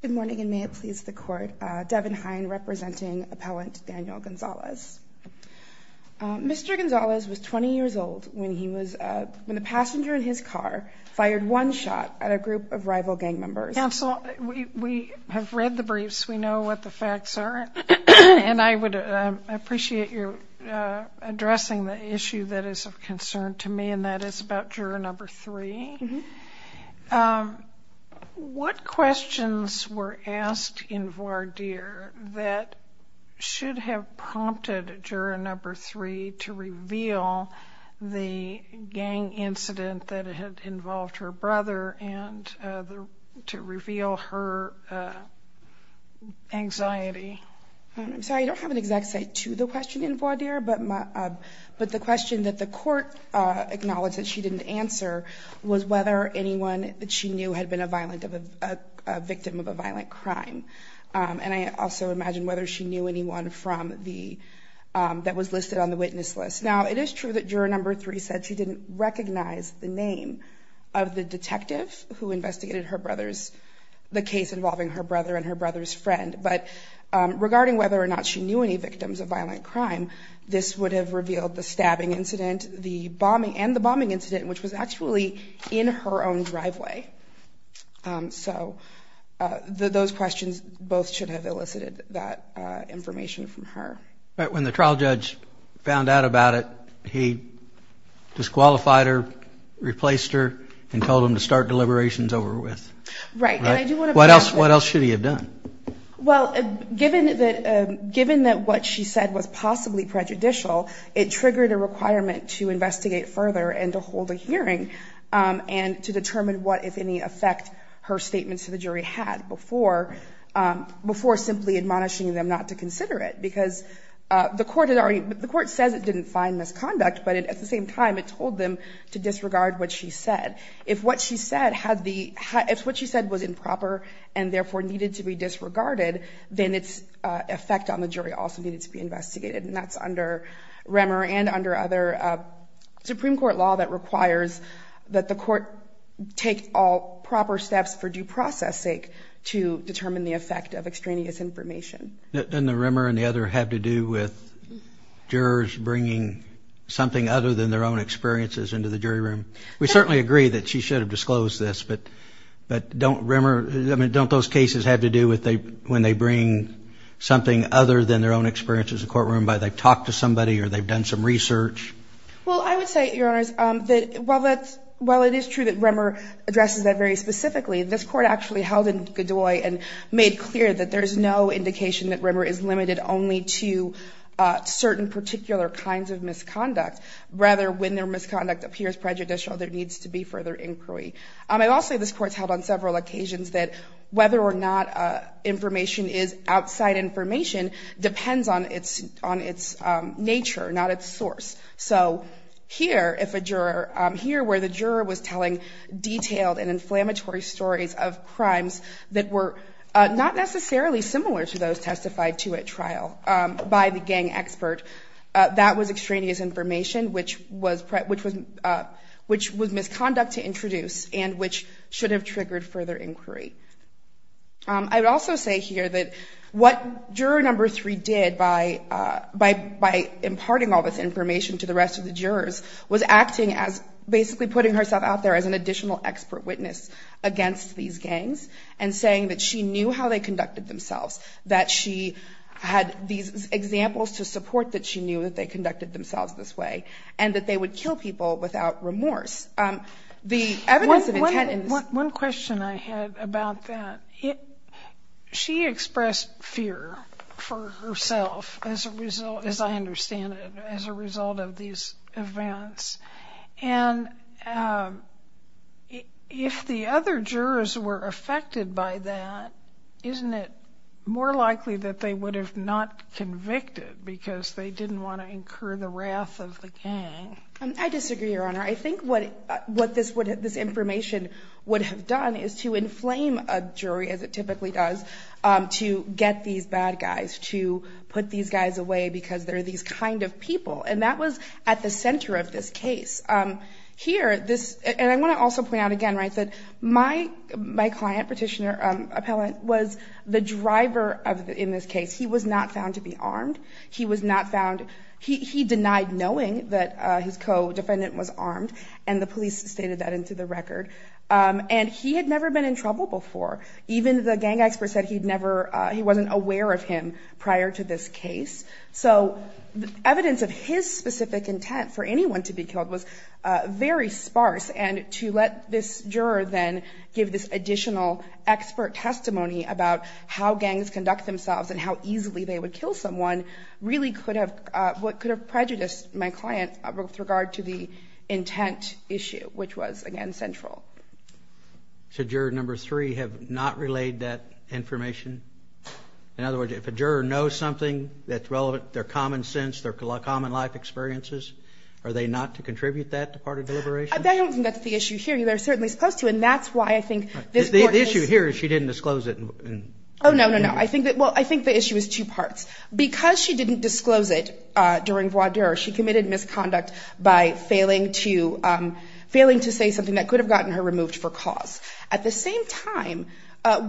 Good morning and may it please the court. Devon Hine representing appellant Daniel Gonzalez. Mr. Gonzalez was 20 years old when he was when the passenger in his car fired one shot at a group of rival gang members. Counsel, we have read the briefs we know what the facts are and I would appreciate you addressing the What questions were asked in voir dire that should have prompted juror number three to reveal the gang incident that had involved her brother and to reveal her anxiety? I'm sorry I don't have an exact say to the question in voir dire but my but the question that the court acknowledged that she didn't answer was whether anyone that she knew had been a violent of a victim of a violent crime. And I also imagine whether she knew anyone from the that was listed on the witness list. Now it is true that juror number three said she didn't recognize the name of the detective who investigated her brother's the case involving her brother and her brother's friend but regarding whether or not she knew any victims of violent crime this would have revealed the stabbing incident the bombing and the bombing incident which was actually in her own driveway. So those questions both should have elicited that information from her. But when the trial judge found out about it he disqualified her replaced her and told him to start deliberations over with. Right. What else what else should he have done? Well given that given that what she said was possibly prejudicial it triggered a requirement to investigate further and to hold a hearing and to determine what if any effect her statements to the jury had before before simply admonishing them not to consider it because the court had already the court says it didn't find misconduct but it at the same time it told them to disregard what she said. If what she said had the if what she said was improper and therefore needed to be disregarded then its effect on the jury also needed to be investigated and that's under Remmer and under other Supreme Court law that requires that the court take all proper steps for due process sake to determine the effect of extraneous information. Didn't the Remmer and the other have to do with jurors bringing something other than their own experiences into the jury room? We certainly agree that she should have disclosed this but but don't Remmer I mean don't those cases have to do with they when they bring something other than their own experience as a courtroom by they've talked to somebody or they've done some research? Well I would say your honors that well that well it is true that Remmer addresses that very specifically this court actually held in Godoy and made clear that there's no indication that Remmer is limited only to certain particular kinds of misconduct rather when their misconduct appears prejudicial there needs to be further inquiry. I'll say this court's held on several occasions that whether or not information is outside information depends on its on its nature not its source so here if a juror here where the juror was telling detailed and inflammatory stories of crimes that were not necessarily similar to those testified to at trial by the gang expert that was extraneous information which was which was which was misconduct to introduce and which should have I would also say here that what juror number three did by by by imparting all this information to the rest of the jurors was acting as basically putting herself out there as an additional expert witness against these gangs and saying that she knew how they conducted themselves that she had these examples to support that she knew that they conducted themselves this way and that they would kill people without remorse. The evidence of intent... One question I had about that it she expressed fear for herself as a result as I understand it as a result of these events and if the other jurors were affected by that isn't it more likely that they would have not convicted because they didn't want to incur the wrath of the gang. I disagree your honor I think what what this would this information would have done is to inflame a jury as it typically does to get these bad guys to put these guys away because they're these kind of people and that was at the center of this case. Here this and I want to also point out again right that my my client petitioner appellant was the driver of in this case he was not found to be armed he was not found he denied knowing that his co-defendant was armed and the police stated that into the record and he had never been in trouble before even the gang expert said he'd never he wasn't aware of him prior to this case so the evidence of his specific intent for anyone to be killed was very sparse and to let this juror then give this additional expert testimony about how gangs conduct themselves and how easily they would kill someone really could have what could have prejudiced my client with regard to the intent issue which was again central. So juror number three have not relayed that information in other words if a juror knows something that's relevant their common sense their common life experiences are they not to contribute that to part of deliberation? I don't think that's the issue here you they're certainly supposed to and that's why I think. The issue here is she didn't disclose it. Oh no no no I think that well I think the issue is two parts because she didn't disclose it during voir dire she committed misconduct by failing to failing to say something that could have gotten her removed for cause at the same time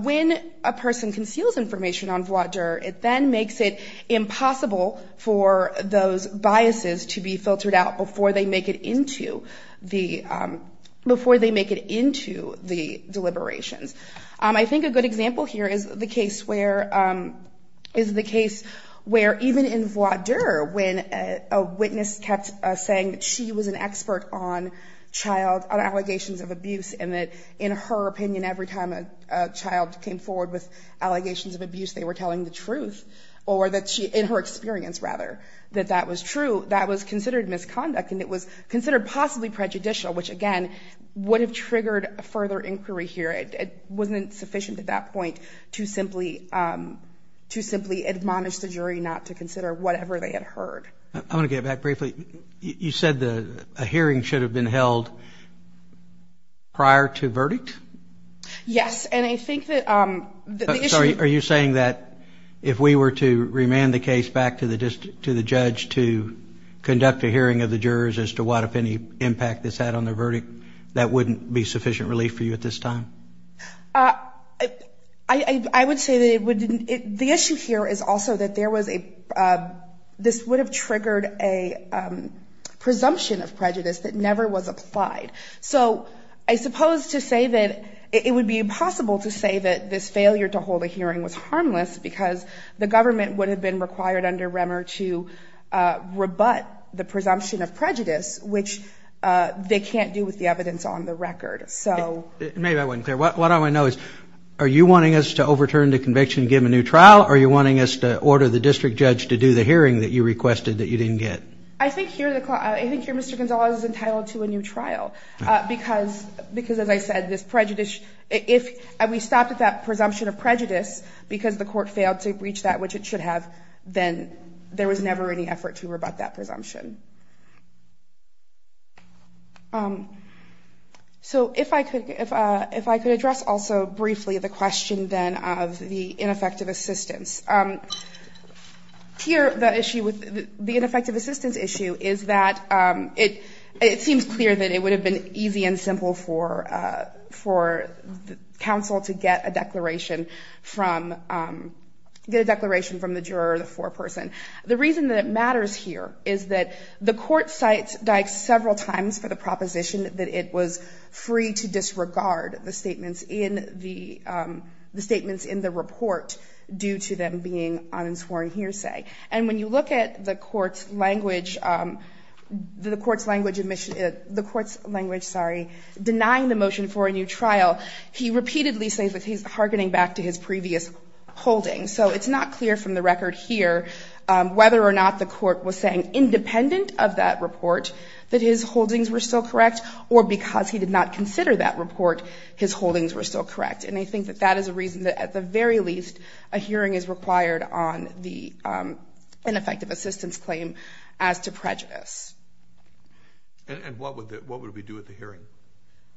when a person conceals information on voir dire it then makes it impossible for those biases to be filtered out before they make it into the before they make it into the deliberations. I think a good example here is the case where is the case where even in voir dire when a witness kept saying that she was an expert on child allegations of abuse and that in her opinion every time a child came forward with allegations of abuse they were telling the truth or that she in her experience rather that that was true possibly prejudicial which again would have triggered a further inquiry here it wasn't sufficient at that point to simply to simply admonish the jury not to consider whatever they had heard. I want to get back briefly you said the hearing should have been held prior to verdict? Yes and I think that sorry are you saying that if we were to remand the case back to the district to the judge to conduct a hearing of the jurors as to what if any impact this had on the verdict that wouldn't be sufficient relief for you at this time? I would say that it would the issue here is also that there was a this would have triggered a presumption of prejudice that never was applied so I suppose to say that it would be impossible to say that this failure to hold a hearing was rebut the presumption of prejudice which they can't do with the evidence on the record. So maybe I wasn't clear what I want to know is are you wanting us to overturn the conviction give a new trial or you're wanting us to order the district judge to do the hearing that you requested that you didn't get? I think here Mr. Gonzalez is entitled to a new trial because because as I said this prejudice if we stopped at that presumption of prejudice because the court failed to reach that which it should have then there was never any effort to rebut that presumption. So if I could if I could address also briefly the question then of the ineffective assistance. Here the issue with the ineffective assistance issue is that it it seems clear that it would have been easy and simple for for counsel to get a declaration from get a declaration from the juror or the foreperson. The reason that it matters here is that the court cites several times for the proposition that it was free to disregard the statements in the the statements in the report due to them being unsworn hearsay and when you look at the court's language the court's language admission the court's language sorry denying the motion for a new trial he repeatedly says that he's hearkening back to his previous holding so it's not clear from the record here whether or not the court was saying independent of that report that his holdings were still correct or because he did not consider that report his holdings were still correct and I think that that is a reason that at the very least a hearing is required on the ineffective assistance claim as to prejudice. And what would that what would we do at the hearing?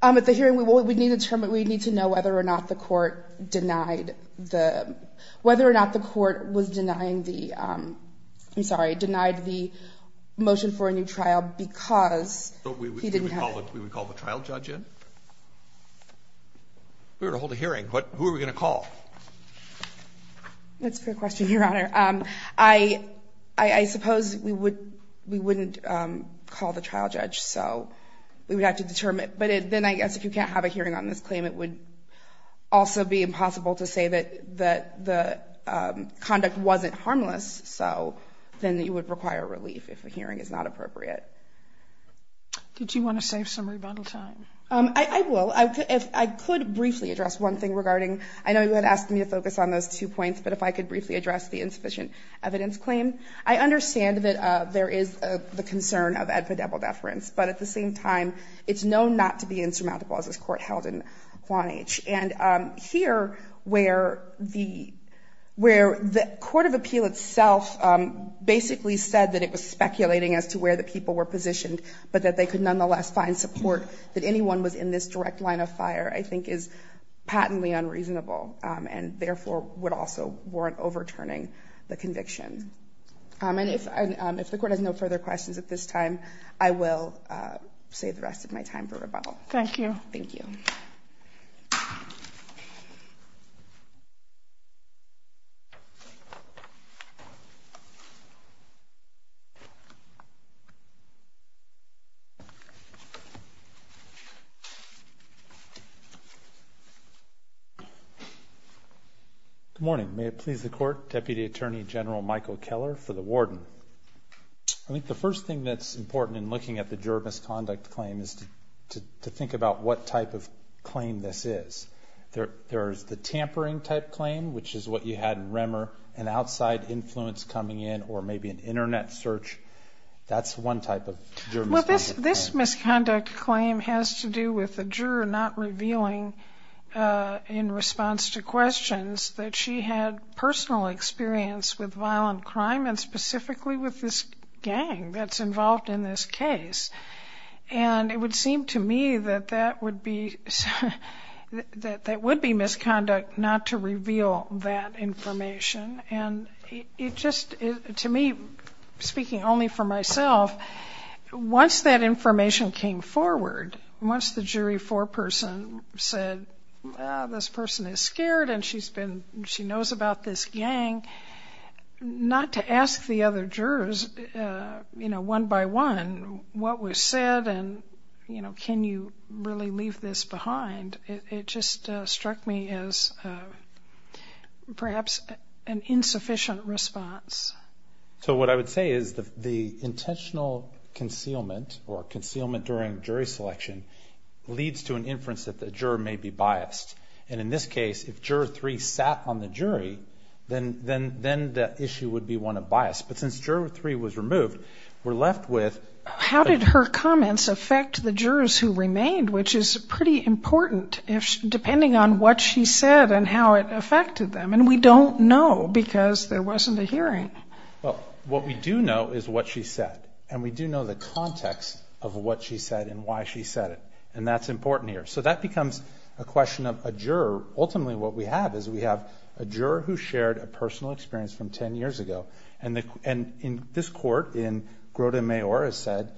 At the hearing we would we need to determine we need to know whether or not the court denied the whether or not the court was denying the I'm sorry denied the motion for a new trial because we didn't have a trial judge in we were to hold a hearing but who are we going to call? That's a good question your honor I I suppose we would we wouldn't call the trial judge so we would have to determine but it then I guess if you can't have a hearing on this claim it would also be impossible to say that that the conduct wasn't harmless so then that you would require relief if a hearing is not appropriate. Did you want to save some rebundal time? I will I could briefly address one thing regarding I know you had asked me to focus on those two points but if I could briefly address the insufficient evidence claim I understand that there is the concern of epidemial deference but at the same time it's known not to be insurmountable as this court held in Quonich and here where the where the Court of Appeal itself basically said that it was speculating as to where the people were positioned but that they could nonetheless find support that anyone was in this direct line of fire I think is patently unreasonable and therefore would also warrant overturning the conviction and if if the court has no further questions at this time I will save the rest of my time for rebuttal. Thank you. Good morning may it please the court Deputy Attorney General Michael Keller for the Warden. I think the first thing that's important in looking at the juror misconduct claim is to think about what type of claim this is. There there's the tampering type claim which is what you had in Remmer an outside influence coming in or maybe an internet search that's one type of juror misconduct. This misconduct claim has to do with the juror not revealing in response to crime and specifically with this gang that's involved in this case and it would seem to me that that would be that that would be misconduct not to reveal that information and it just to me speaking only for myself once that information came forward once the jury foreperson said this person is scared and she's been she knows about this gang not to ask the other jurors you know one by one what was said and you know can you really leave this behind it just struck me as perhaps an insufficient response. So what I would say is that the intentional concealment or concealment during jury selection leads to an if juror 3 sat on the jury then then then the issue would be one of bias but since juror 3 was removed we're left with how did her comments affect the jurors who remained which is pretty important if depending on what she said and how it affected them and we don't know because there wasn't a hearing. Well what we do know is what she said and we do know the context of what she said and why she said it and that's important here so that becomes a question of a what we have is we have a juror who shared a personal experience from 10 years ago and the and in this court in Grota Mayor has said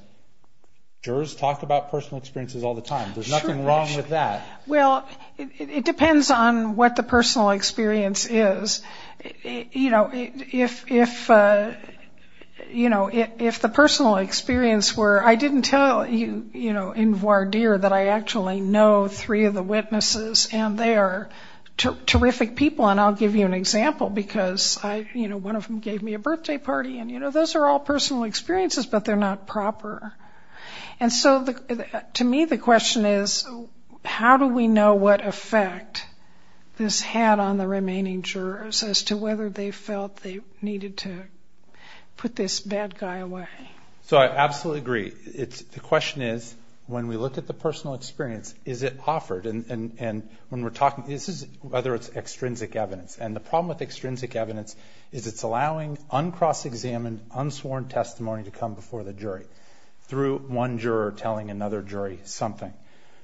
jurors talk about personal experiences all the time there's nothing wrong with that. Well it depends on what the personal experience is you know if if you know if the personal experience were I didn't tell you you know in voir dire that I terrific people and I'll give you an example because I you know one of them gave me a birthday party and you know those are all personal experiences but they're not proper and so the to me the question is how do we know what effect this had on the remaining jurors as to whether they felt they needed to put this bad guy away. So I absolutely agree it's the question is when we look at the whether it's extrinsic evidence and the problem with extrinsic evidence is it's allowing uncross-examined unsworn testimony to come before the jury through one juror telling another jury something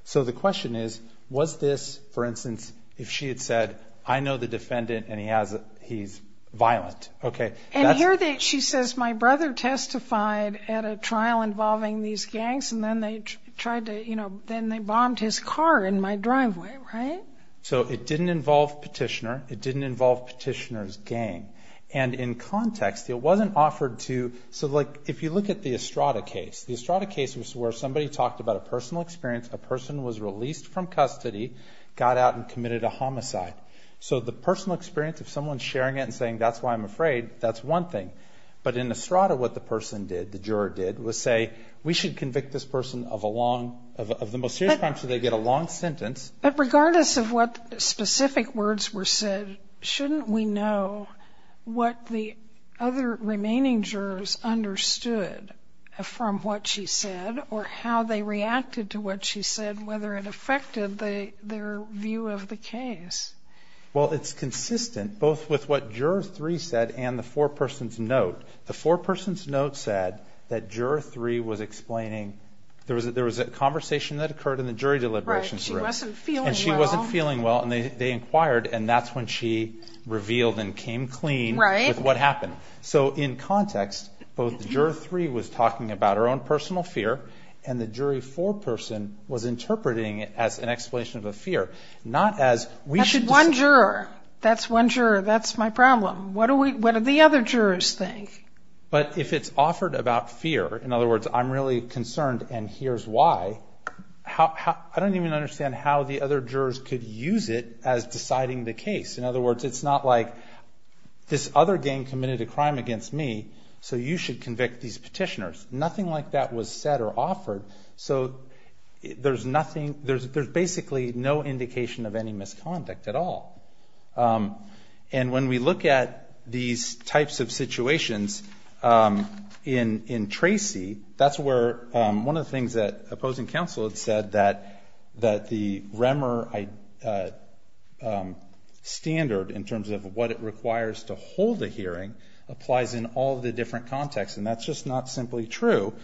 so the question is was this for instance if she had said I know the defendant and he has he's violent okay and here that she says my brother testified at a trial involving these gangs and then they tried to you know then they bombed his car in my driveway right so it didn't involve petitioner it didn't involve petitioners gang and in context it wasn't offered to so like if you look at the Estrada case the Estrada case was where somebody talked about a personal experience a person was released from custody got out and committed a homicide so the personal experience of someone sharing it and saying that's why I'm afraid that's one thing but in Estrada what the person did the juror did was say we should convict this person of a long of the most serious crime so they get a long sentence but regardless of what specific words were said shouldn't we know what the other remaining jurors understood from what she said or how they reacted to what she said whether it affected the their view of the case well it's consistent both with what jurors three said and the four persons note the four three was explaining there was a there was a conversation that occurred in the jury deliberations and she wasn't feeling well and they inquired and that's when she revealed and came clean right with what happened so in context both juror three was talking about her own personal fear and the jury for person was interpreting it as an explanation of a fear not as we should one juror that's one juror that's my problem what are we what are the other jurors think but if it's offered about fear in other words I'm really concerned and here's why how I don't even understand how the other jurors could use it as deciding the case in other words it's not like this other game committed a crime against me so you should convict these petitioners nothing like that was said or offered so there's nothing there's basically no indication of any misconduct at all and when we look at these types of situations in in Tracy that's where one of the things that opposing counsel had said that that the remmer I standard in terms of what it requires to hold the hearing applies in all the different contexts and that's just not simply true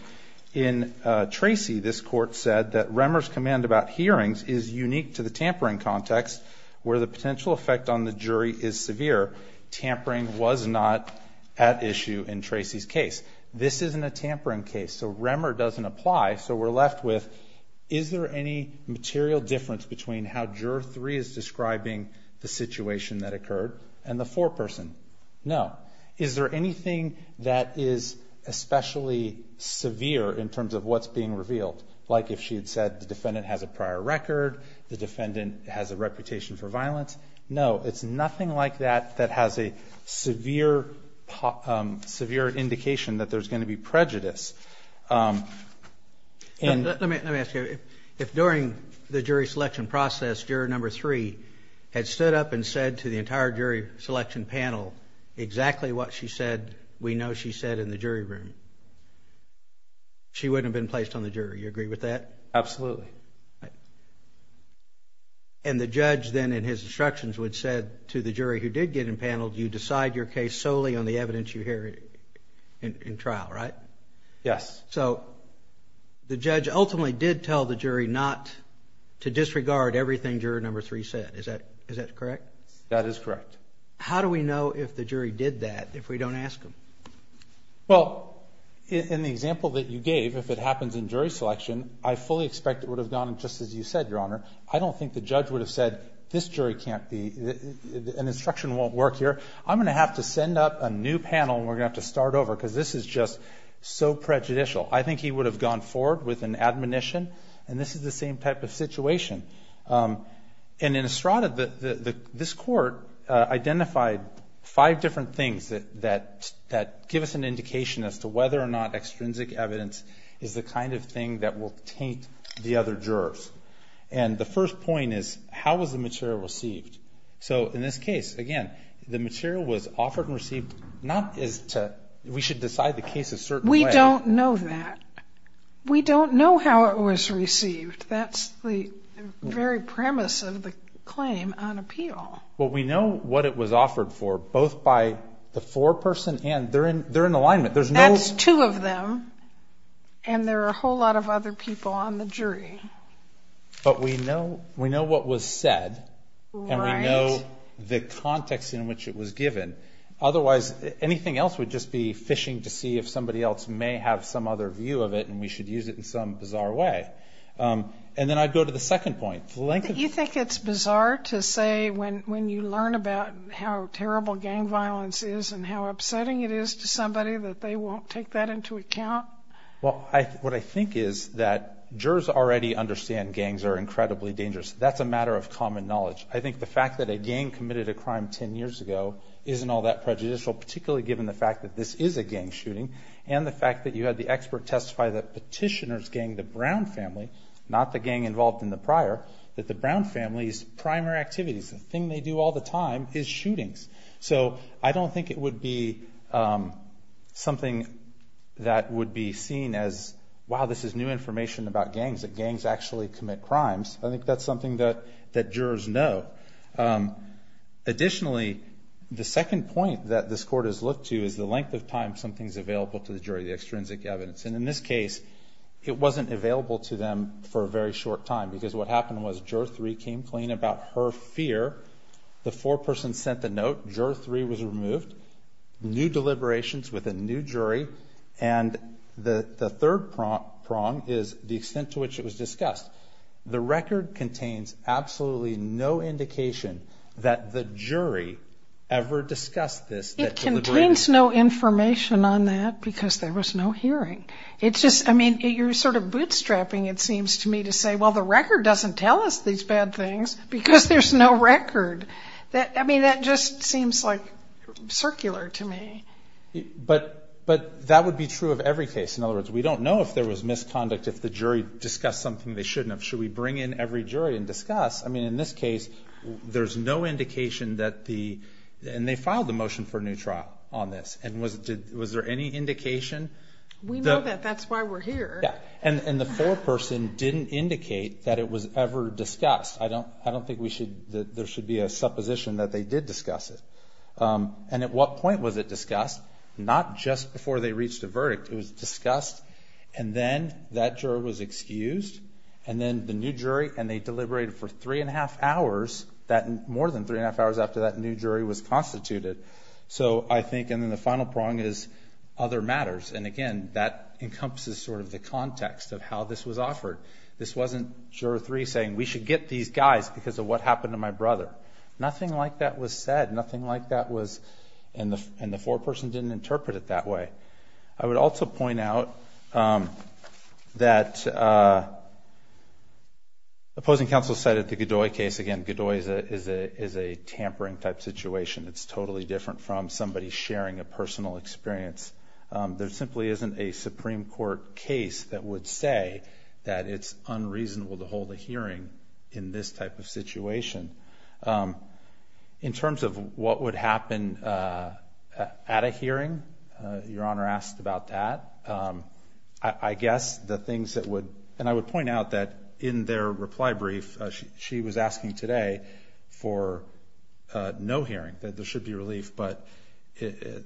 in Tracy this court said that remmer's command about hearings is unique to the tampering context where the potential effect on the tampering was not at issue in Tracy's case this isn't a tampering case so remmer doesn't apply so we're left with is there any material difference between how juror three is describing the situation that occurred and the four person no is there anything that is especially severe in terms of what's being revealed like if she had said the defendant has a prior record the defendant has a reputation for violence no it's nothing like that that has a severe severe indication that there's going to be prejudice and let me ask you if during the jury selection process juror number three had stood up and said to the entire jury selection panel exactly what she said we know she said in the jury room she wouldn't been placed on the jury you agree with that absolutely and the judge then in his instructions would said to the jury who did get in panel do you decide your case solely on the evidence you hear in trial right yes so the judge ultimately did tell the jury not to disregard everything juror number three said is that is that correct that is correct how do we know if the jury did that if we don't ask him well in the example that you gave if it happens in jury selection I fully expect it would have gone just as you said your honor I don't think the judge would have said this jury can't be an instruction won't work here I'm going to have to send up a new panel we're going to have to start over because this is just so prejudicial I think he would have gone forward with an admonition and this is the same type of situation and in Estrada this court identified five different things that that that give us an indication as to whether or not extrinsic evidence is the kind of thing that will taint the other jurors and the first point is how was the material received so in this case again the material was offered and received not is to we should decide the case of certain we don't know that we don't know how it was received that's the very premise of the claim on appeal well we know what it was offered for both by the foreperson and they're in there in alignment there's no two of them and there are a whole lot of other people on the jury but we know we know what was said and we know the context in which it was given otherwise anything else would just be fishing to see if somebody else may have some other view of it and we should use it in some bizarre way and then I go to the second point the length of you think it's bizarre to say when when you learn about how terrible gang violence is and how upsetting it is to somebody that they won't take that into account well what I think is that jurors already understand gangs are incredibly dangerous that's a matter of common knowledge I think the fact that a gang committed a crime ten years ago isn't all that prejudicial particularly given the fact that this is a gang shooting and the fact that you had the expert testify that petitioners gang the Brown family not the gang involved in the Brown family's primary activities the thing they do all the time is shootings so I don't think it would be something that would be seen as wow this is new information about gangs that gangs actually commit crimes I think that's something that that jurors know additionally the second point that this court has looked to is the length of time something's available to the jury the extrinsic evidence and in this case it wasn't available to them for a very short time because what happened was juror 3 came clean about her fear the foreperson sent the note juror 3 was removed new deliberations with a new jury and the the third prompt prong is the extent to which it was discussed the record contains absolutely no indication that the jury ever discussed this it contains no information on that because there was no hearing it's just I mean you're sort of bootstrapping it seems to me to say well the record doesn't tell us these bad things because there's no record that I mean that just seems like circular to me but but that would be true of every case in other words we don't know if there was misconduct if the jury discussed something they shouldn't have should we bring in every jury and discuss I mean in this case there's no indication that the and they filed the motion for a new trial on this and was it was there any indication we know that that's why we're here and the foreperson didn't indicate that it was ever discussed I don't I don't think we should there should be a supposition that they did discuss it and at what point was it discussed not just before they reached a verdict it was discussed and then that juror was excused and then the new jury and they deliberated for three and a half hours that more than three and a half hours after that new the final prong is other matters and again that encompasses sort of the context of how this was offered this wasn't juror three saying we should get these guys because of what happened to my brother nothing like that was said nothing like that was in the and the foreperson didn't interpret it that way I would also point out that opposing counsel said at the Godoy case again Godoy is a is a tampering type situation it's totally different from somebody sharing a personal experience there simply isn't a Supreme Court case that would say that it's unreasonable to hold a hearing in this type of situation in terms of what would happen at a hearing your honor asked about that I guess the things that would and I would point out that in their reply brief she was asking today for no hearing that there should be relief but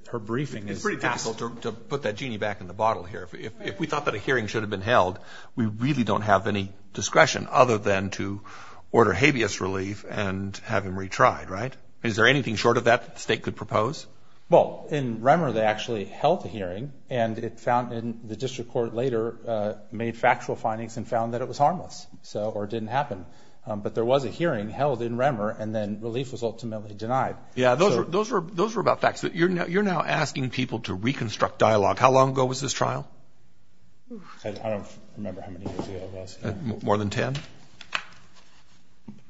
her briefing is pretty powerful to put that genie back in the bottle here if we thought that a hearing should have been held we really don't have any discretion other than to order habeas relief and have him retried right is there anything short of that state could propose well in Remmer they actually held a hearing and it found in the district court later made factual findings and found that it was harmless so or didn't happen but there was a hearing held in Remmer and then relief was ultimately denied yeah those were those were those were about facts that you're now you're now asking people to reconstruct dialogue how long ago was this trial more than 10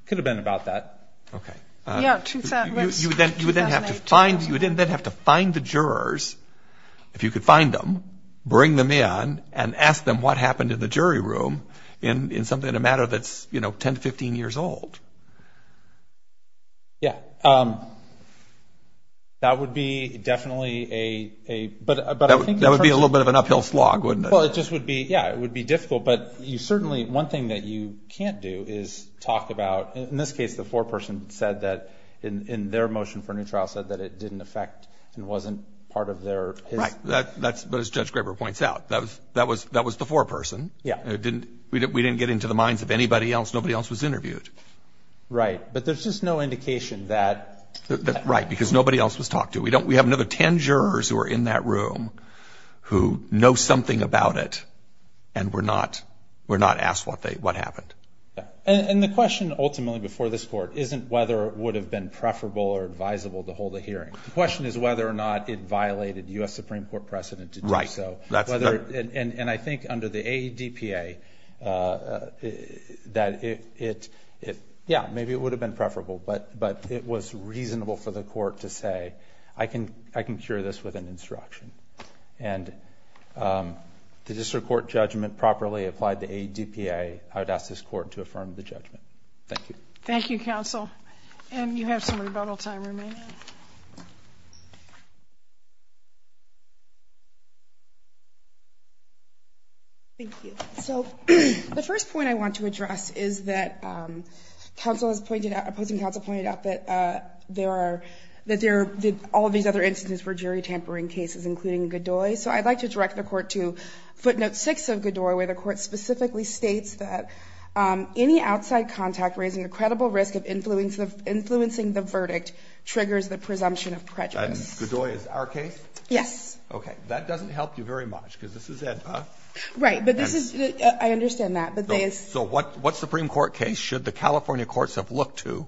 could have been about that okay you would then have to find you didn't then have to find the jurors if you could find them bring them in and ask them what happened in the jury room in something in a matter that's you know 10 to 15 years old yeah that would be definitely a but that would be a little bit of an uphill slog wouldn't well it just would be yeah it would be difficult but you certainly one thing that you can't do is talk about in this case the foreperson said that in their motion for a new trial said that it didn't affect and wasn't part of their right that that's but as judge points out that was that was that was the foreperson yeah it didn't we didn't get into the minds of anybody else nobody else was interviewed right but there's just no indication that that's right because nobody else was talked to we don't we have another 10 jurors who are in that room who know something about it and we're not we're not asked what they what happened and the question ultimately before this court isn't whether it would have been preferable or advisable to hold a hearing the question is whether or not it violated u.s. Supreme Court precedent to write so that's whether and and and I think under the a DPA that it if yeah maybe it would have been preferable but but it was reasonable for the court to say I can I can cure this with an instruction and the district court judgment properly applied the a DPA I would ask this court to affirm the judgment thank you thank you counsel and you have some rebuttal time remaining thank you so the first point I want to address is that counsel has pointed out opposing counsel pointed out that there are that there did all these other instances for jury tampering cases including good boy so I'd like to direct the court to footnote six of good doorway the court specifically states that any outside contact raising a credible risk of influence of influencing the verdict triggers the presumption of prejudice good boy is our yes okay that doesn't help you very much because this is it right but this is I understand that but they so what what Supreme Court case should the California courts have looked to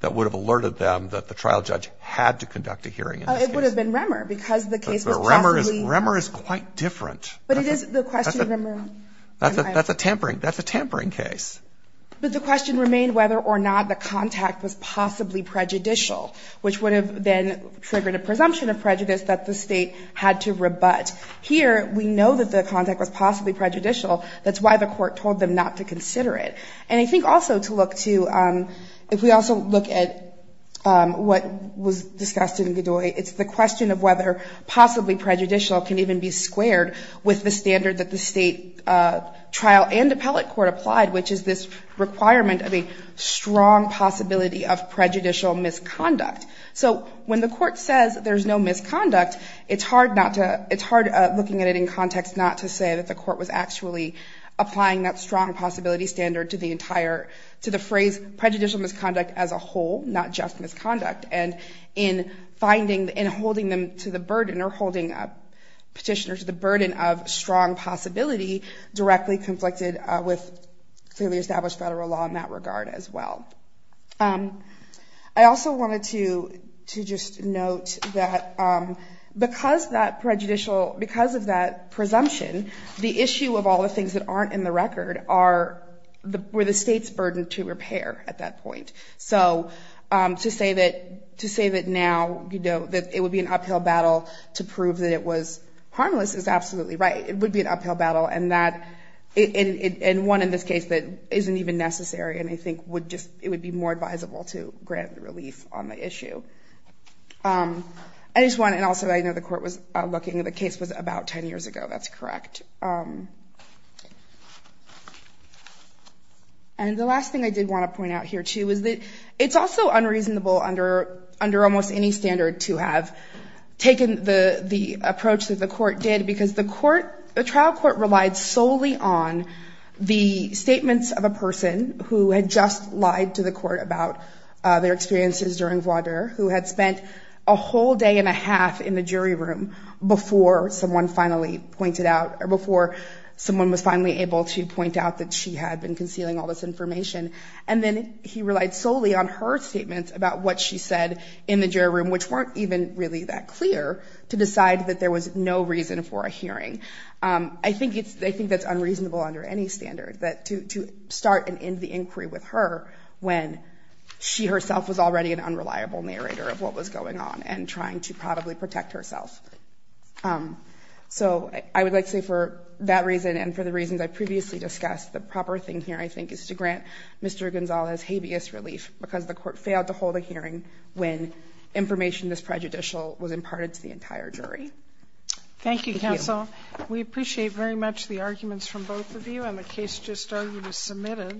that would have alerted them that the trial judge had to conduct a hearing it would have been remmer because the case was remmer is remmer is quite different but it is the question remember that's a tampering that's a tampering case but the question remained whether or not the contact was possibly prejudicial which would have been triggered a presumption of prejudice that the state had to rebut here we know that the contact was possibly prejudicial that's why the court told them not to consider it and I think also to look to if we also look at what was discussed in the doorway it's the question of whether possibly prejudicial can even be squared with the standard that the state trial and appellate court applied which is this requirement of a strong possibility of prejudicial misconduct so when the court says there's no misconduct it's hard not to it's hard looking at it in context not to say that the court was actually applying that strong possibility standard to the entire to the phrase prejudicial misconduct as a whole not just misconduct and in finding in holding them to the burden or holding up petitioners the burden of strong possibility directly conflicted with clearly established federal law in that regard as well I also wanted to to just note that because that prejudicial because of that presumption the issue of all the things that aren't in the record are the where the state's burden to repair at that point so to say that to say that now you know that it would be an uphill battle to prove that it was harmless is absolutely right it would be uphill battle and that in one in this case that isn't even necessary and I think would just it would be more advisable to grant the relief on the issue I just want and also I know the court was looking at the case was about ten years ago that's correct and the last thing I did want to point out here too is that it's also unreasonable under under almost any standard to have taken the the approach that the court did because the court the trial court relied solely on the statements of a person who had just lied to the court about their experiences during water who had spent a whole day and a half in the jury room before someone finally pointed out or before someone was finally able to point out that she had been concealing all this information and then he relied solely on her statements about what she said in the jury room which weren't even really that clear to decide that there was no reason for a hearing I think it's they think that's unreasonable under any standard that to start and end the inquiry with her when she herself was already an unreliable narrator of what was going on and trying to probably protect herself so I would like to say for that reason and for the reasons I previously discussed the proper thing here I think is to grant mr. Gonzales habeas relief because the court failed to hold a hearing when information this prejudicial was imparted to the entire jury thank you counsel we appreciate very much the arguments from both of you and the case just started was submitted